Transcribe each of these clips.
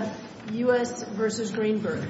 237168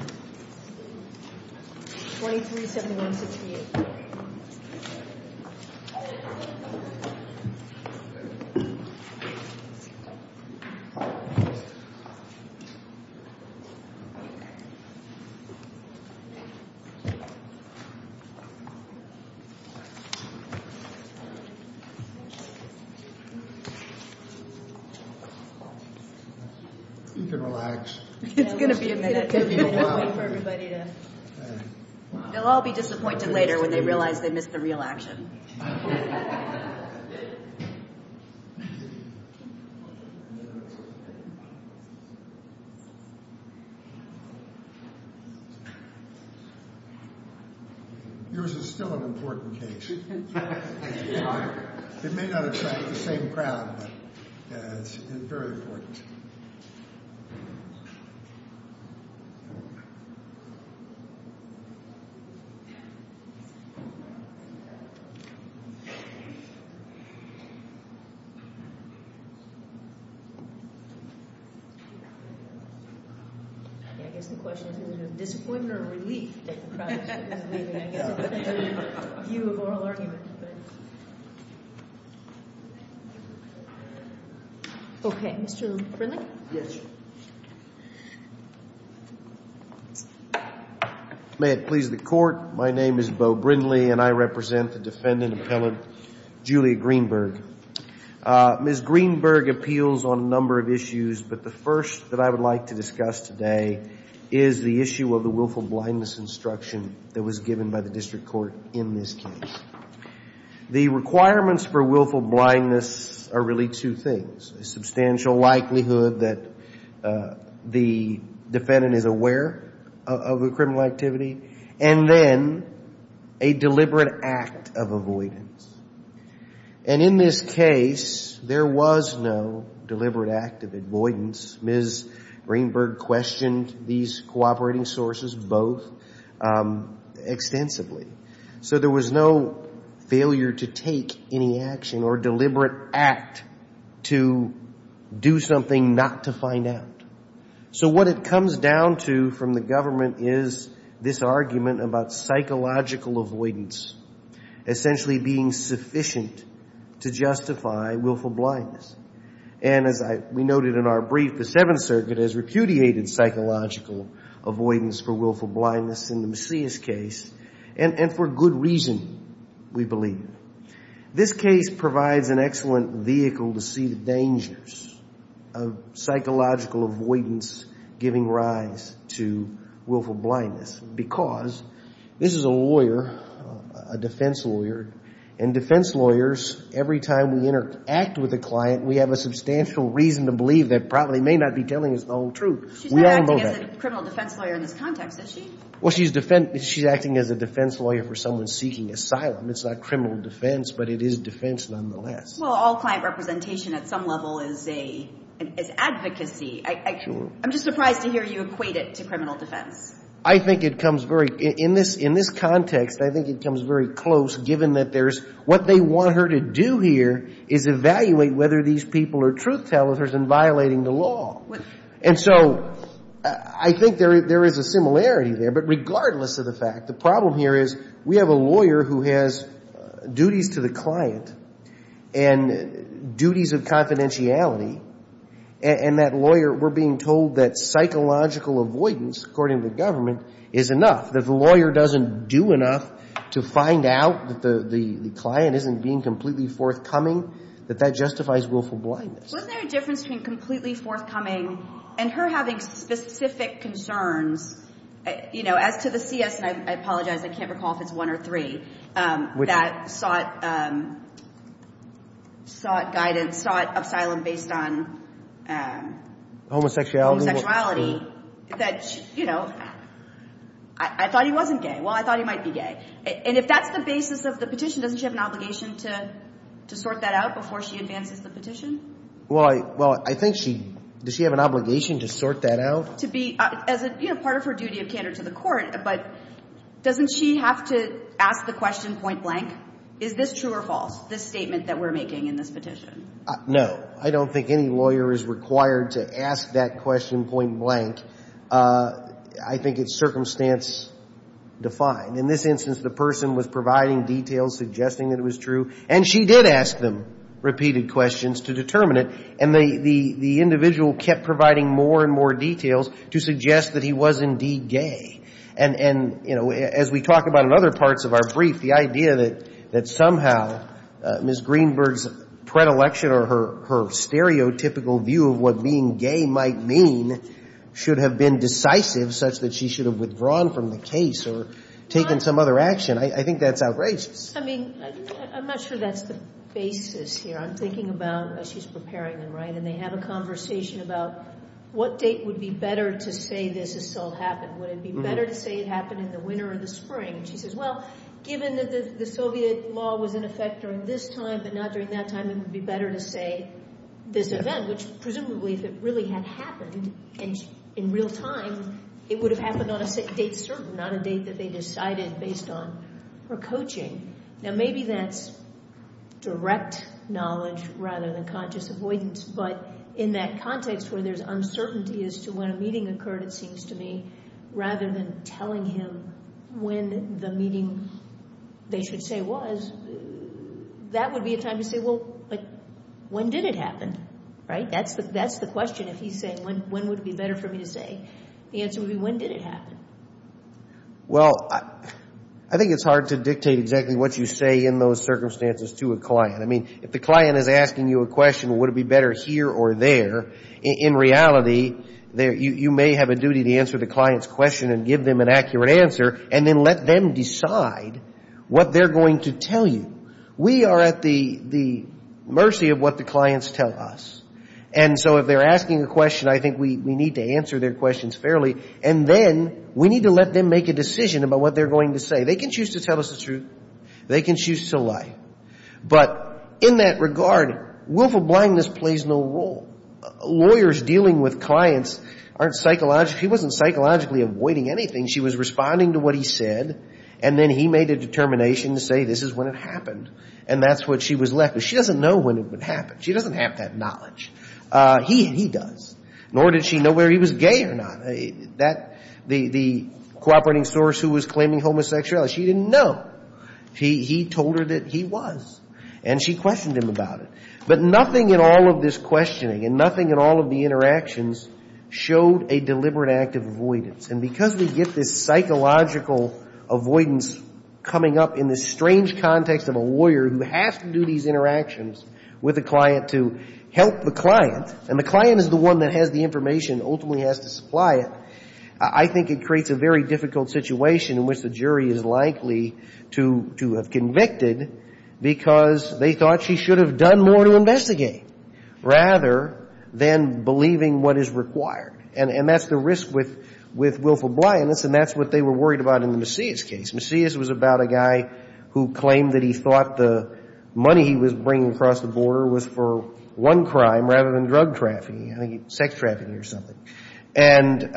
You can relax. It's going to be a minute. It's going to be a moment for everybody to... They'll all be disappointed later when they realize they missed the real action. Yours is still an important case. It may not attract the same crowd, but it's very important. I guess the question is, is it a disappointment or a relief that the project is leaving? I guess it depends on your view of oral argument. Okay. Mr. Brindley? Yes, Your Honor. May it please the Court. My name is Bo Brindley, and I represent the defendant appellate, Julia Greenberg. Ms. Greenberg appeals on a number of issues, but the first that I would like to discuss today is the issue of the willful blindness instruction that was given by the district court in this case. The requirements for willful blindness are really two things. A substantial likelihood that the defendant is aware of a criminal activity, and then a deliberate act of avoidance. And in this case, there was no deliberate act of avoidance. Ms. Greenberg questioned these cooperating sources both extensively. So there was no failure to take any action or deliberate act to do something not to find out. So what it comes down to from the government is this argument about psychological avoidance, essentially being sufficient to justify willful blindness. And as we noted in our brief, the Seventh Circuit has repudiated psychological avoidance for willful blindness in the Macias case, and for good reason, we believe. This case provides an excellent vehicle to see the dangers of psychological avoidance giving rise to willful blindness, because this is a lawyer, a defense lawyer, and defense lawyers, every time we interact with a client, we have a substantial reason to believe that probably may not be telling us the whole truth. She's not acting as a criminal defense lawyer in this context, is she? Well, she's acting as a defense lawyer for someone seeking asylum. It's not criminal defense, but it is defense nonetheless. Well, all client representation at some level is advocacy. I'm just surprised to hear you equate it to criminal defense. I think it comes very – in this context, I think it comes very close, given that there's – what they want her to do here is evaluate whether these people are truth-tellers and violating the law. And so I think there is a similarity there. But regardless of the fact, the problem here is we have a lawyer who has duties to the client and duties of confidentiality, and that lawyer – we're being told that psychological avoidance, according to the government, is enough. If the lawyer doesn't do enough to find out that the client isn't being completely forthcoming, that that justifies willful blindness. Wasn't there a difference between completely forthcoming and her having specific concerns? You know, as to the CS – and I apologize, I can't recall if it's one or three – that sought guidance, sought asylum based on – Homosexuality. Homosexuality, that, you know, I thought he wasn't gay. Well, I thought he might be gay. And if that's the basis of the petition, doesn't she have an obligation to sort that out before she advances the petition? Well, I – well, I think she – does she have an obligation to sort that out? To be – as a, you know, part of her duty of candor to the court, but doesn't she have to ask the question point blank, is this true or false, this statement that we're making in this petition? No. I don't think any lawyer is required to ask that question point blank. I think it's circumstance defined. In this instance, the person was providing details, suggesting that it was true, and she did ask them repeated questions to determine it. And the individual kept providing more and more details to suggest that he was indeed gay. And, you know, as we talk about in other parts of our brief, the idea that somehow Ms. Greenberg's predilection or her stereotypical view of what being gay might mean should have been decisive such that she should have withdrawn from the case or taken some other action, I think that's outrageous. I mean, I'm not sure that's the basis here. I'm thinking about – she's preparing them, right, and they have a conversation about what date would be better to say this assault happened. Would it be better to say it happened in the winter or the spring? And she says, well, given that the Soviet law was in effect during this time, but not during that time, it would be better to say this event, which presumably if it really had happened in real time, it would have happened on a date certain, not a date that they decided based on her coaching. Now, maybe that's direct knowledge rather than conscious avoidance, but in that context where there's uncertainty as to when a meeting occurred, it seems to me, rather than telling him when the meeting they should say was, that would be a time to say, well, when did it happen, right? That's the question if he's saying when would it be better for me to say. The answer would be when did it happen. Well, I think it's hard to dictate exactly what you say in those circumstances to a client. I mean, if the client is asking you a question, would it be better here or there, in reality you may have a duty to answer the client's question and give them an accurate answer and then let them decide what they're going to tell you. We are at the mercy of what the clients tell us. And so if they're asking a question, I think we need to answer their questions fairly, and then we need to let them make a decision about what they're going to say. They can choose to tell us the truth. They can choose to lie. But in that regard, willful blindness plays no role. Lawyers dealing with clients aren't psychologically, he wasn't psychologically avoiding anything. She was responding to what he said, and then he made a determination to say this is when it happened, and that's what she was left with. She doesn't know when it would happen. She doesn't have that knowledge. He does. Nor did she know whether he was gay or not. The cooperating source who was claiming homosexuality, she didn't know. He told her that he was, and she questioned him about it. But nothing in all of this questioning and nothing in all of the interactions showed a deliberate act of avoidance. And because we get this psychological avoidance coming up in this strange context of a lawyer who has to do these interactions with a client to help the client, and the client is the one that has the information and ultimately has to supply it, I think it creates a very difficult situation in which the jury is likely to have convicted because they thought she should have done more to investigate rather than believing what is required. And that's the risk with Wilf O'Brien, and that's what they were worried about in the Macias case. Macias was about a guy who claimed that he thought the money he was bringing across the border was for one crime rather than drug trafficking, I think sex trafficking or something. And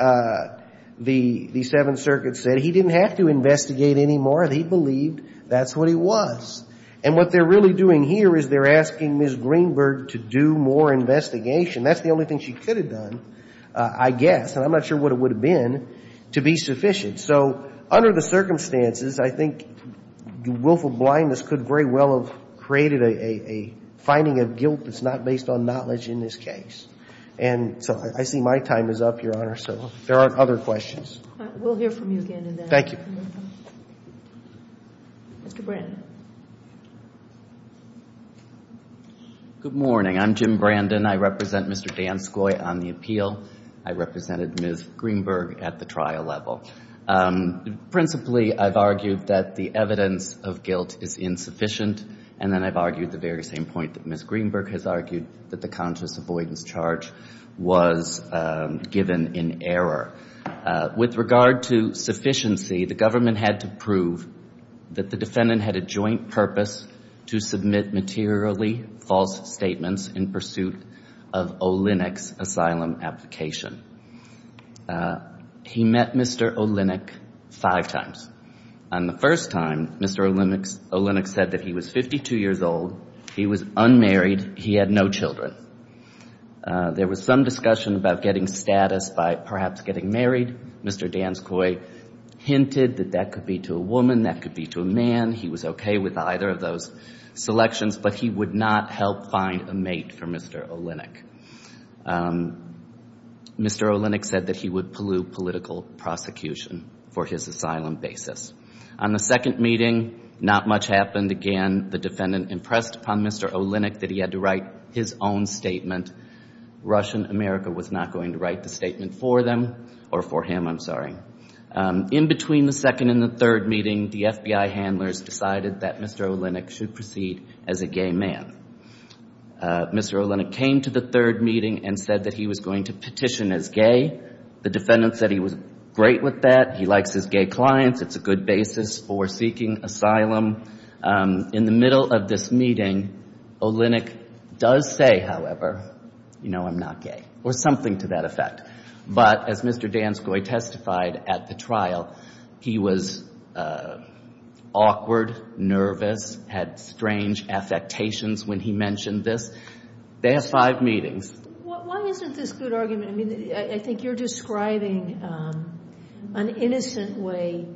the Seventh Circuit said he didn't have to investigate anymore. They believed that's what he was. And what they're really doing here is they're asking Ms. Greenberg to do more investigation. That's the only thing she could have done, I guess, and I'm not sure what it would have been, to be sufficient. So under the circumstances, I think Wilf O'Brien, this could very well have created a finding of guilt that's not based on knowledge in this case. And so I see my time is up, Your Honor, so if there aren't other questions. We'll hear from you again in the afternoon. Mr. Brandon. Good morning. I'm Jim Brandon. I represent Mr. Danskoi on the appeal. I represented Ms. Greenberg at the trial level. Principally, I've argued that the evidence of guilt is insufficient, and then I've argued the very same point that Ms. Greenberg has argued, that the conscious avoidance charge was given in error. With regard to sufficiency, the government had to prove that the defendant had a joint purpose to submit materially false statements in pursuit of Olenek's asylum application. He met Mr. Olenek five times. On the first time, Mr. Olenek said that he was 52 years old, he was unmarried, he had no children. There was some discussion about getting status by perhaps getting married. Mr. Danskoi hinted that that could be to a woman, that could be to a man. He was okay with either of those selections, but he would not help find a mate for Mr. Olenek. Mr. Olenek said that he would pollute political prosecution for his asylum basis. On the second meeting, not much happened. Again, the defendant impressed upon Mr. Olenek that he had to write his own statement. Russian America was not going to write the statement for them, or for him, I'm sorry. In between the second and the third meeting, the FBI handlers decided that Mr. Olenek should proceed as a gay man. Mr. Olenek came to the third meeting and said that he was going to petition as gay. The defendant said he was great with that, he likes his gay clients, it's a good basis for seeking asylum. In the middle of this meeting, Olenek does say, however, you know, I'm not gay, or something to that effect. But as Mr. Danskoi testified at the trial, he was awkward, nervous, had strange affectations when he mentioned this. They have five meetings. Why isn't this good argument? I mean, I think you're describing an innocent way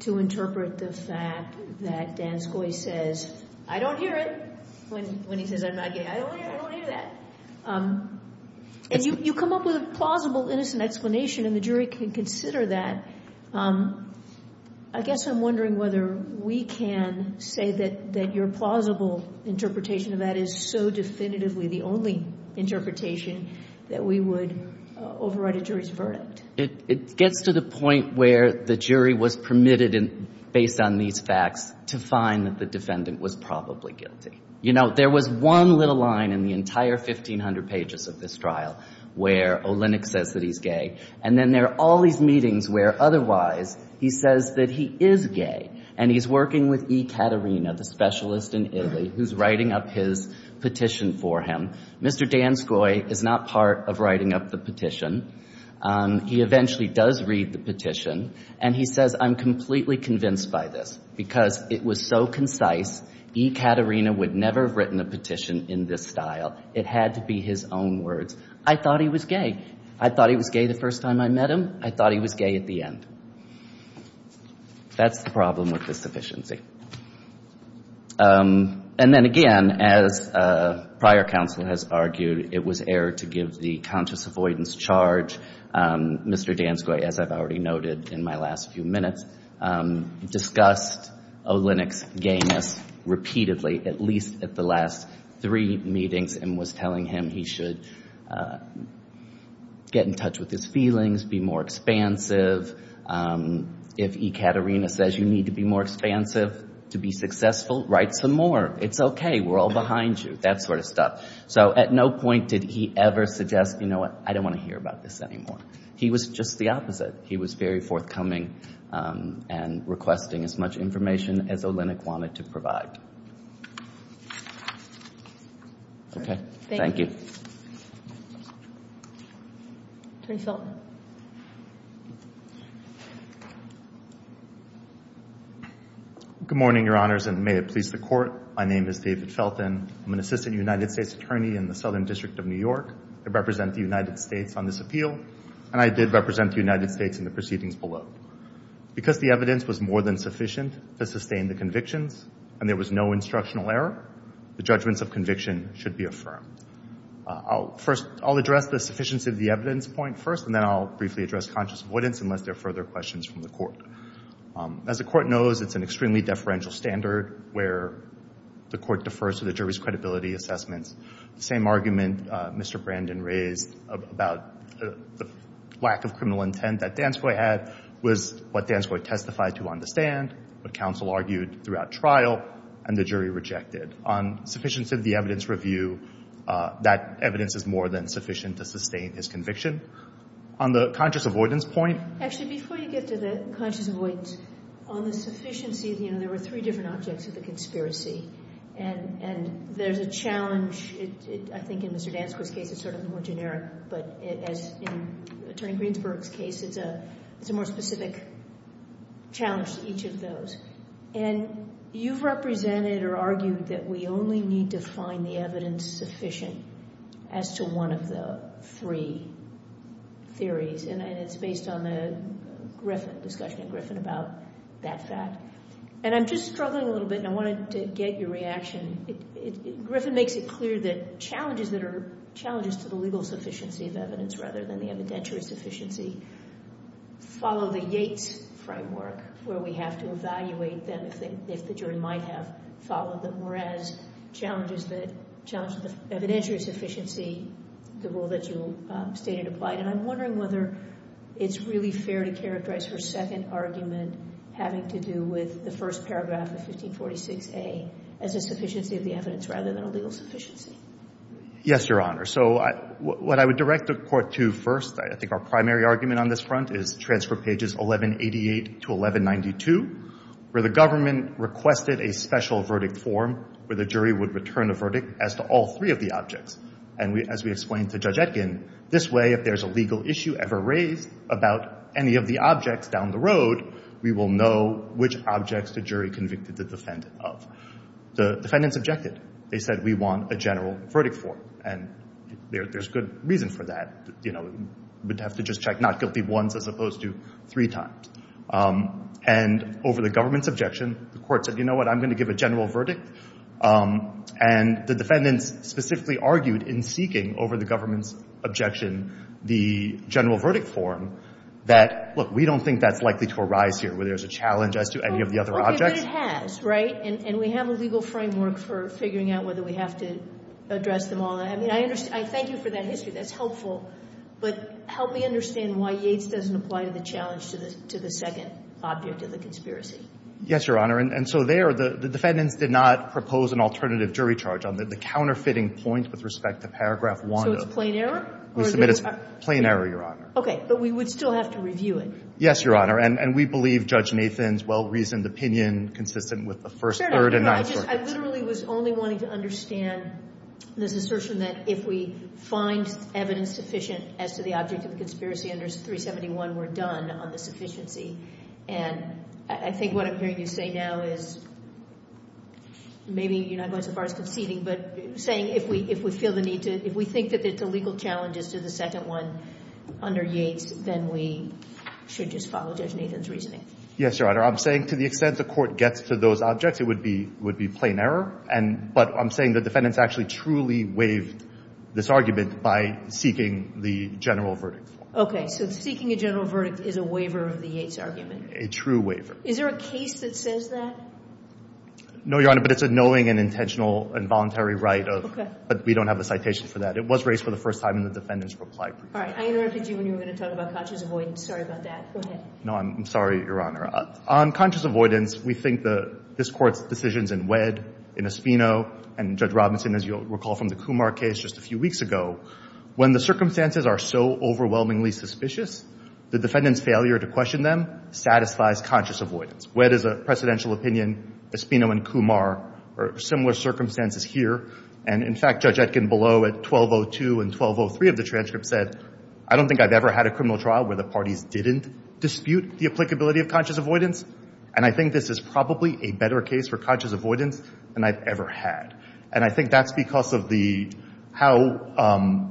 to interpret the fact that Danskoi says, I don't hear it, when he says I'm not gay. I don't hear that. And you come up with a plausible, innocent explanation, and the jury can consider that. I guess I'm wondering whether we can say that your plausible interpretation of that is so definitively the only interpretation that we would overwrite a jury's verdict. It gets to the point where the jury was permitted, based on these facts, to find that the defendant was probably guilty. You know, there was one little line in the entire 1,500 pages of this trial where Olenek says that he's gay. And then there are all these meetings where, otherwise, he says that he is gay. And he's working with E. Caterina, the specialist in Italy, who's writing up his petition for him. Mr. Danskoi is not part of writing up the petition. He eventually does read the petition. And he says, I'm completely convinced by this because it was so concise. E. Caterina would never have written a petition in this style. It had to be his own words. I thought he was gay. I thought he was gay the first time I met him. I thought he was gay at the end. That's the problem with this sufficiency. And then, again, as prior counsel has argued, it was error to give the conscious avoidance charge. Mr. Danskoi, as I've already noted in my last few minutes, discussed Olenek's gayness repeatedly, at least at the last three meetings, and was telling him he should get in touch with his feelings, be more expansive. If E. Caterina says you need to be more expansive to be successful, write some more. It's okay. We're all behind you, that sort of stuff. So at no point did he ever suggest, you know what? I don't want to hear about this anymore. He was just the opposite. He was very forthcoming and requesting as much information as Olenek wanted to provide. Okay, thank you. Attorney Felton. Good morning, Your Honors, and may it please the Court. My name is David Felton. I'm an assistant United States attorney in the Southern District of New York. I represent the United States on this appeal, and I did represent the United States in the proceedings below. Because the evidence was more than sufficient to sustain the convictions, and there was no instructional error, the judgments of conviction should be affirmed. First, I'll address the sufficiency of the evidence point first, and then I'll briefly address conscious avoidance unless there are further questions from the Court. As the Court knows, it's an extremely deferential standard where the Court defers to the jury's credibility assessments. The same argument Mr. Brandon raised about the lack of criminal intent that Danskoi had was what Danskoi testified to understand, what counsel argued throughout trial, and the jury rejected. On sufficiency of the evidence review, that evidence is more than sufficient to sustain his conviction. On the conscious avoidance point. Actually, before you get to the conscious avoidance, on the sufficiency, you know, there were three different objects of the conspiracy, and there's a challenge. I think in Mr. Danskoi's case, it's sort of more generic, but as in Attorney Greensburg's case, it's a more specific challenge to each of those. And you've represented or argued that we only need to find the evidence sufficient as to one of the three theories, and it's based on the Griffin discussion, Griffin about that fact. And I'm just struggling a little bit, and I wanted to get your reaction. Griffin makes it clear that challenges that are challenges to the legal sufficiency of evidence rather than the evidentiary sufficiency follow the Yates framework, where we have to evaluate them if the jury might have followed them, whereas challenges to the evidentiary sufficiency, the rule that you stated applied. And I'm wondering whether it's really fair to characterize her second argument having to do with the first paragraph of 1546A as a sufficiency of the evidence rather than a legal sufficiency. Yes, Your Honor. So what I would direct the Court to first, I think our primary argument on this front, is transfer pages 1188 to 1192, where the government requested a special verdict form where the jury would return a verdict as to all three of the objects. And as we explained to Judge Etkin, this way if there's a legal issue ever raised about any of the objects down the road, we will know which objects the jury convicted the defendant of. The defendants objected. They said, we want a general verdict form, and there's good reason for that. You know, we'd have to just check not guilty once as opposed to three times. And over the government's objection, the Court said, you know what, I'm going to give a general verdict. And the defendants specifically argued in seeking over the government's objection the general verdict form that, look, we don't think that's likely to arise here where there's a challenge as to any of the other objects. But it has, right? And we have a legal framework for figuring out whether we have to address them all. I mean, I thank you for that history. That's helpful. But help me understand why Yates doesn't apply to the challenge to the second object of the conspiracy. Yes, Your Honor. And so there, the defendants did not propose an alternative jury charge on the counterfeiting point with respect to Paragraph 1. So it's plain error? We submit it's plain error, Your Honor. Okay. But we would still have to review it. Yes, Your Honor. And we believe Judge Nathan's well-reasoned opinion consistent with the first, third, and ninth. I literally was only wanting to understand this assertion that if we find evidence sufficient as to the object of the conspiracy under 371, we're done on the sufficiency. And I think what I'm hearing you say now is maybe you're not going so far as conceding, but saying if we feel the need to, if we think that there's a legal challenge as to the second one under Yates, then we should just follow Judge Nathan's reasoning. Yes, Your Honor. I'm saying to the extent the court gets to those objects, it would be plain error. But I'm saying the defendants actually truly waived this argument by seeking the general verdict. Okay. So seeking a general verdict is a waiver of the Yates argument. A true waiver. Is there a case that says that? No, Your Honor. But it's a knowing and intentional and voluntary right. Okay. But we don't have a citation for that. It was raised for the first time in the defendant's reply brief. All right. I interrupted you when you were going to talk about conscious avoidance. Sorry about that. Go ahead. No, I'm sorry, Your Honor. On conscious avoidance, we think this Court's decisions in Wedd, in Espino, and Judge Robinson, as you'll recall from the Kumar case just a few weeks ago, when the circumstances are so overwhelmingly suspicious, the defendant's failure to question them satisfies conscious avoidance. Wedd is a precedential opinion, Espino and Kumar are similar circumstances here. And, in fact, Judge Etkin below at 1202 and 1203 of the transcript said, I don't think I've ever had a criminal trial where the parties didn't dispute the applicability of conscious avoidance, and I think this is probably a better case for conscious avoidance than I've ever had. And I think that's because of how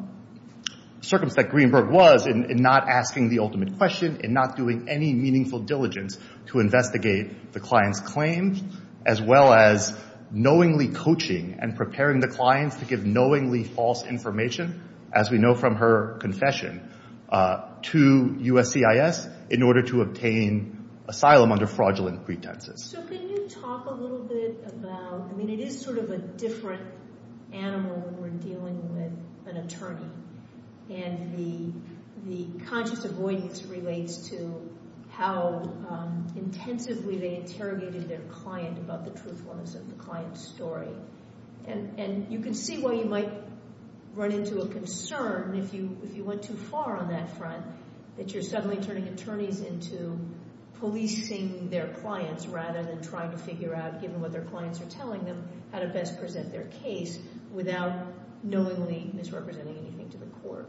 circumspect Greenberg was in not asking the ultimate question, in not doing any meaningful diligence to investigate the client's claims, as well as knowingly coaching and preparing the clients to give knowingly false information, as we know from her confession, to USCIS in order to obtain asylum under fraudulent pretenses. So can you talk a little bit about, I mean, it is sort of a different animal when we're dealing with an attorney, and the conscious avoidance relates to how intensively they interrogated their client about the truthfulness of the client's story. And you can see why you might run into a concern if you went too far on that front, that you're suddenly turning attorneys into policing their clients rather than trying to figure out, given what their clients are telling them, how to best present their case without knowingly misrepresenting anything to the court.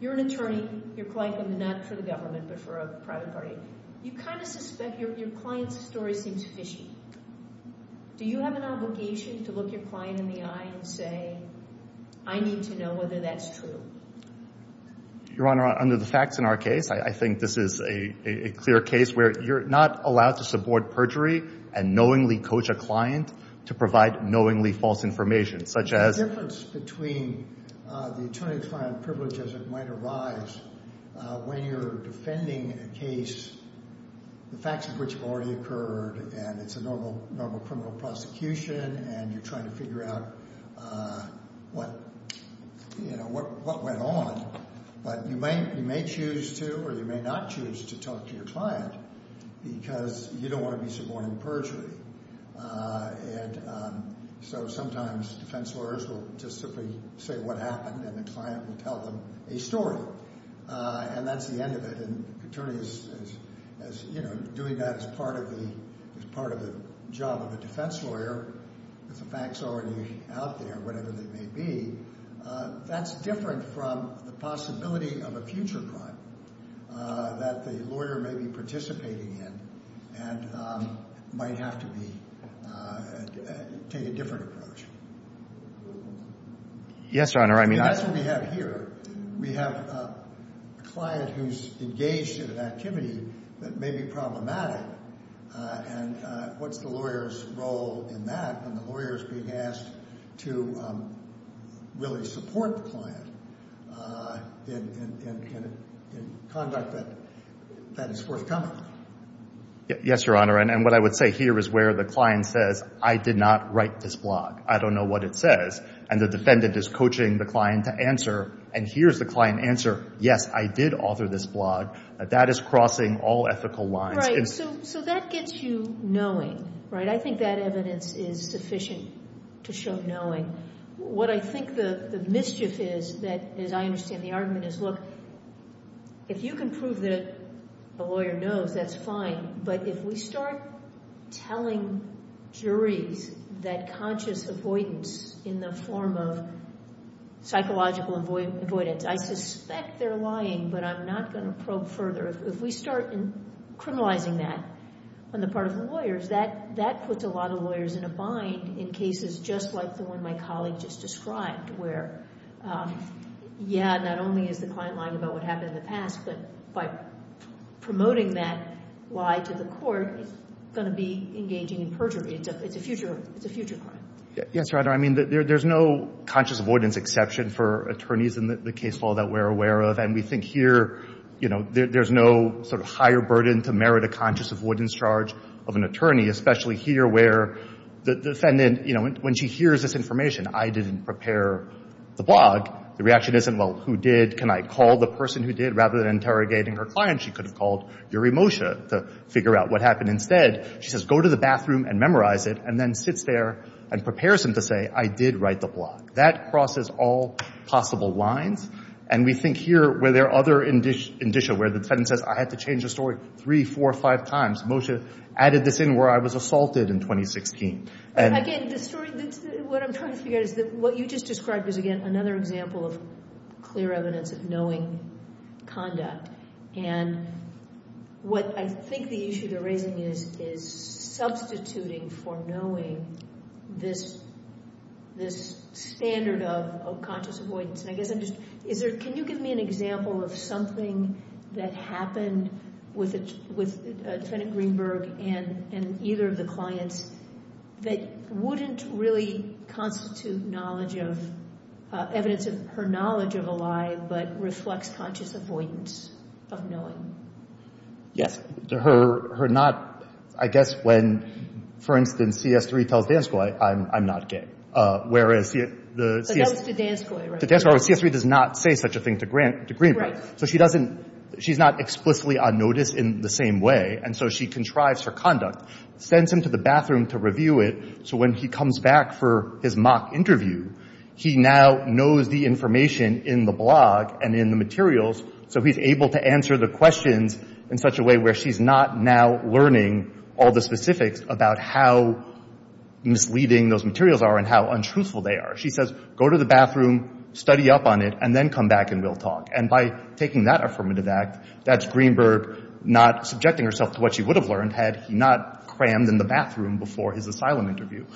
You're an attorney, your client comes in not for the government but for a private party. You kind of suspect your client's story seems fishy. Do you have an obligation to look your client in the eye and say, I need to know whether that's true? Your Honor, under the facts in our case, I think this is a clear case where you're not allowed to support perjury and knowingly coach a client to provide knowingly false information, such as- The difference between the attorney-client privilege as it might arise when you're defending a case, the facts of which have already occurred, and it's a normal criminal prosecution, and you're trying to figure out what went on. But you may choose to or you may not choose to talk to your client because you don't want to be supporting perjury. And so sometimes defense lawyers will just simply say what happened and the client will tell them a story. And that's the end of it. An attorney is doing that as part of the job of a defense lawyer with the facts already out there, whatever they may be. That's different from the possibility of a future crime that the lawyer may be participating in and might have to take a different approach. Yes, Your Honor. And that's what we have here. We have a client who's engaged in an activity that may be problematic. And what's the lawyer's role in that when the lawyer is being asked to really support the client in conduct that is forthcoming? Yes, Your Honor. And what I would say here is where the client says, I did not write this blog. I don't know what it says. And the defendant is coaching the client to answer. And here's the client answer. Yes, I did author this blog. That is crossing all ethical lines. So that gets you knowing, right? I think that evidence is sufficient to show knowing. What I think the mischief is, as I understand the argument, is, look, if you can prove that a lawyer knows, that's fine. But if we start telling juries that conscious avoidance in the form of psychological avoidance, I suspect they're lying. But I'm not going to probe further. If we start criminalizing that on the part of the lawyers, that puts a lot of lawyers in a bind in cases just like the one my colleague just described, where, yeah, not only is the client lying about what happened in the past, but by promoting that lie to the court, it's going to be engaging in perjury. It's a future crime. Yes, Your Honor. I mean, there's no conscious avoidance exception for attorneys in the case law that we're aware of. And we think here, you know, there's no sort of higher burden to merit a conscious avoidance charge of an attorney, especially here where the defendant, you know, when she hears this information, I didn't prepare the blog, the reaction isn't, well, who did? Can I call the person who did? Rather than interrogating her client, she could have called Yuri Moshe to figure out what happened. Instead, she says, go to the bathroom and memorize it, and then sits there and prepares him to say, I did write the blog. That crosses all possible lines. And we think here where there are other indicia where the defendant says, I had to change the story three, four, five times. Moshe added this in where I was assaulted in 2016. Again, the story, what I'm trying to figure out is that what you just described is, again, another example of clear evidence of knowing conduct. And what I think the issue they're raising is substituting for knowing this standard of conscious avoidance. And I guess I'm just, is there, can you give me an example of something that happened with defendant Greenberg and either of the clients that wouldn't really constitute knowledge of, evidence of her knowledge of a lie, but reflects conscious avoidance of knowing? Yes. Her not, I guess when, for instance, CS3 tells Danskoi, I'm not gay. Whereas the- But that was to Danskoi, right? To Danskoi, CS3 does not say such a thing to Greenberg. Right. So she doesn't, she's not explicitly on notice in the same way. And so she contrives her conduct, sends him to the bathroom to review it. So when he comes back for his mock interview, he now knows the information in the blog and in the materials. So he's able to answer the questions in such a way where she's not now learning all the specifics about how misleading those materials are and how untruthful they are. She says, go to the bathroom, study up on it, and then come back and we'll talk. And by taking that affirmative act, that's Greenberg not subjecting herself to what she would have learned had he not crammed in the bathroom before his asylum interview.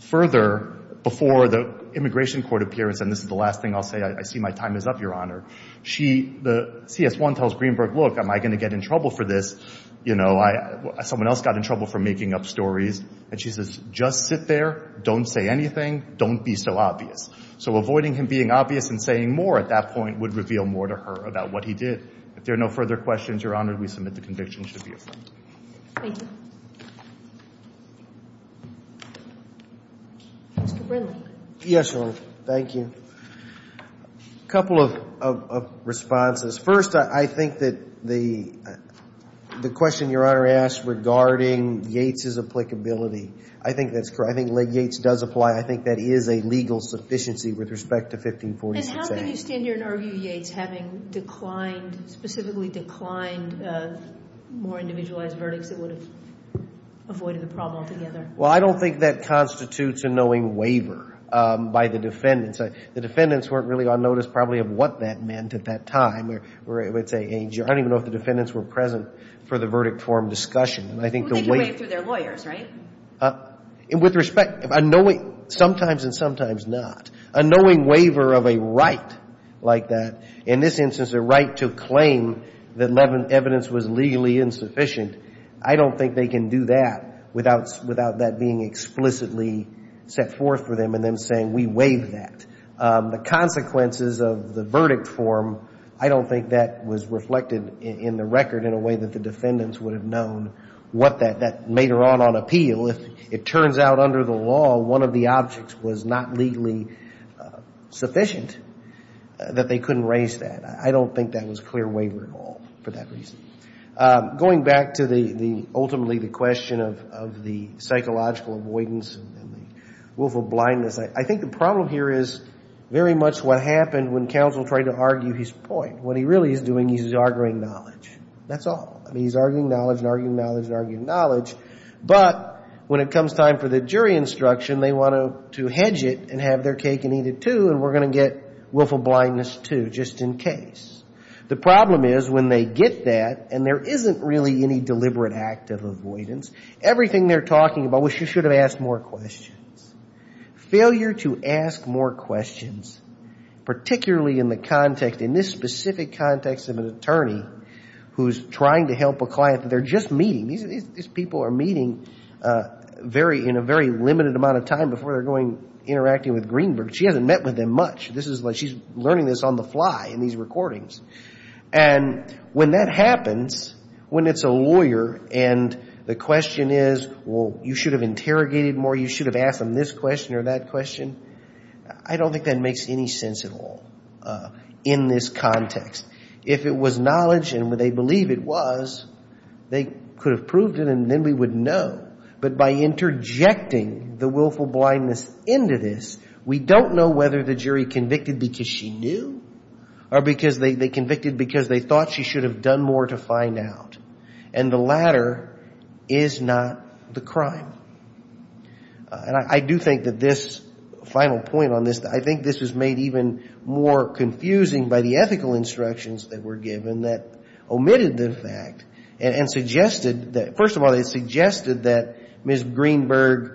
Further, before the immigration court appearance, and this is the last thing I'll say, I see my time is up, Your Honor. She, the, CS1 tells Greenberg, look, am I going to get in trouble for this? You know, I, someone else got in trouble for making up stories. And she says, just sit there, don't say anything, don't be so obvious. So avoiding him being obvious and saying more at that point would reveal more to her about what he did. If there are no further questions, Your Honor, we submit the conviction should be affirmed. Thank you. Mr. Brindley. Yes, Your Honor. Thank you. A couple of responses. First, I think that the question Your Honor asked regarding Yates' applicability, I think that's correct. I think Yates does apply. I think that is a legal sufficiency with respect to 1546A. And how can you stand here and argue Yates having declined, specifically declined more individualized verdicts that would have avoided the problem altogether? Well, I don't think that constitutes a knowing waiver by the defendants. The defendants weren't really on notice probably of what that meant at that time. Or it would say, hey, I don't even know if the defendants were present for the verdict forum discussion. And I think the way. Well, they could waive through their lawyers, right? With respect, a knowing, sometimes and sometimes not, a knowing waiver of a right like that, in this instance a right to claim that evidence was legally insufficient, I don't think they can do that without that being explicitly set forth for them and them saying we waive that. The consequences of the verdict forum, I don't think that was reflected in the record in a way that the defendants would have known what that made or ought to appeal. If it turns out under the law one of the objects was not legally sufficient, that they couldn't raise that. I don't think that was a clear waiver at all for that reason. Going back to ultimately the question of the psychological avoidance and the wolf of blindness, I think the problem here is very much what happened when counsel tried to argue his point. What he really is doing is he's arguing knowledge. That's all. I mean, he's arguing knowledge and arguing knowledge and arguing knowledge. But when it comes time for the jury instruction, they want to hedge it and have their cake and eat it, too, and we're going to get wolf of blindness, too, just in case. The problem is when they get that, and there isn't really any deliberate act of avoidance, everything they're talking about was you should have asked more questions. Failure to ask more questions, particularly in the context, in this specific context of an attorney who's trying to help a client that they're just meeting, these people are meeting in a very limited amount of time before they're interacting with Greenberg. She hasn't met with them much. She's learning this on the fly in these recordings. And when that happens, when it's a lawyer and the question is, well, you should have interrogated more, you should have asked them this question or that question, I don't think that makes any sense at all in this context. If it was knowledge and they believe it was, they could have proved it and then we would know. But by interjecting the wolf of blindness into this, we don't know whether the jury convicted because she knew or because they convicted because they thought she should have done more to find out. And the latter is not the crime. And I do think that this final point on this, I think this is made even more confusing by the ethical instructions that were given that omitted the fact and suggested that, first of all, it suggested that Ms. Greenberg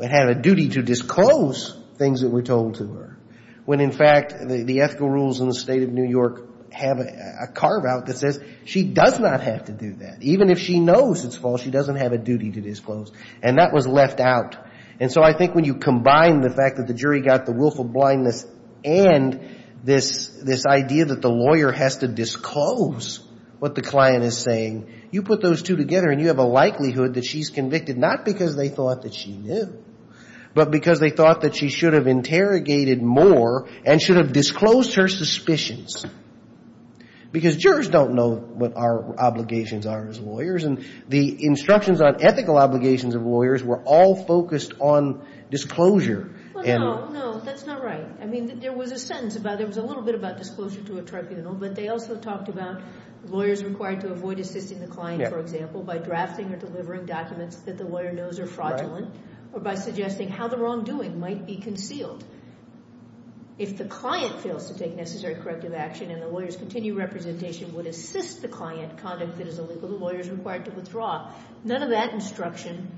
had a duty to disclose things that were told to her. When, in fact, the ethical rules in the state of New York have a carve-out that says she does not have to do that. Even if she knows it's false, she doesn't have a duty to disclose. And that was left out. And so I think when you combine the fact that the jury got the wolf of blindness and this idea that the lawyer has to disclose what the client is saying, you put those two together and you have a likelihood that she's convicted not because they thought that she knew, but because they thought that she should have interrogated more and should have disclosed her suspicions. Because jurors don't know what our obligations are as lawyers, and the instructions on ethical obligations of lawyers were all focused on disclosure. Well, no, no, that's not right. I mean, there was a sentence about it. It was a little bit about disclosure to a tribunal, but they also talked about lawyers required to avoid assisting the client, for example, by drafting or delivering documents that the lawyer knows are fraudulent or by suggesting how the wrongdoing might be concealed. If the client fails to take necessary corrective action and the lawyer's continued representation would assist the client, conduct that is illegal to lawyers required to withdraw, none of that instruction,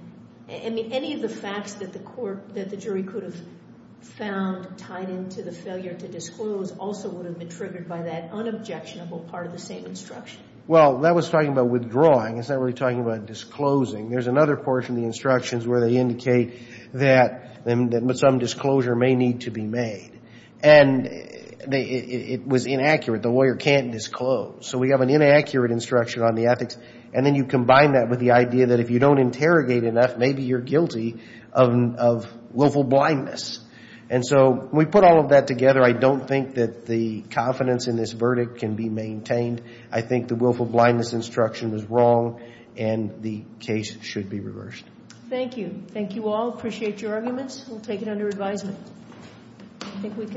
I mean, any of the facts that the jury could have found tied into the failure to disclose also would have been triggered by that unobjectionable part of the same instruction. Well, that was talking about withdrawing. It's not really talking about disclosing. There's another portion of the instructions where they indicate that some disclosure may need to be made. And it was inaccurate. The lawyer can't disclose. So we have an inaccurate instruction on the ethics, and then you combine that with the idea that if you don't interrogate enough, maybe you're guilty of willful blindness. And so we put all of that together. I don't think that the confidence in this verdict can be maintained. I think the willful blindness instruction was wrong, and the case should be reversed. Thank you. Thank you all. Appreciate your arguments. We'll take it under advisement.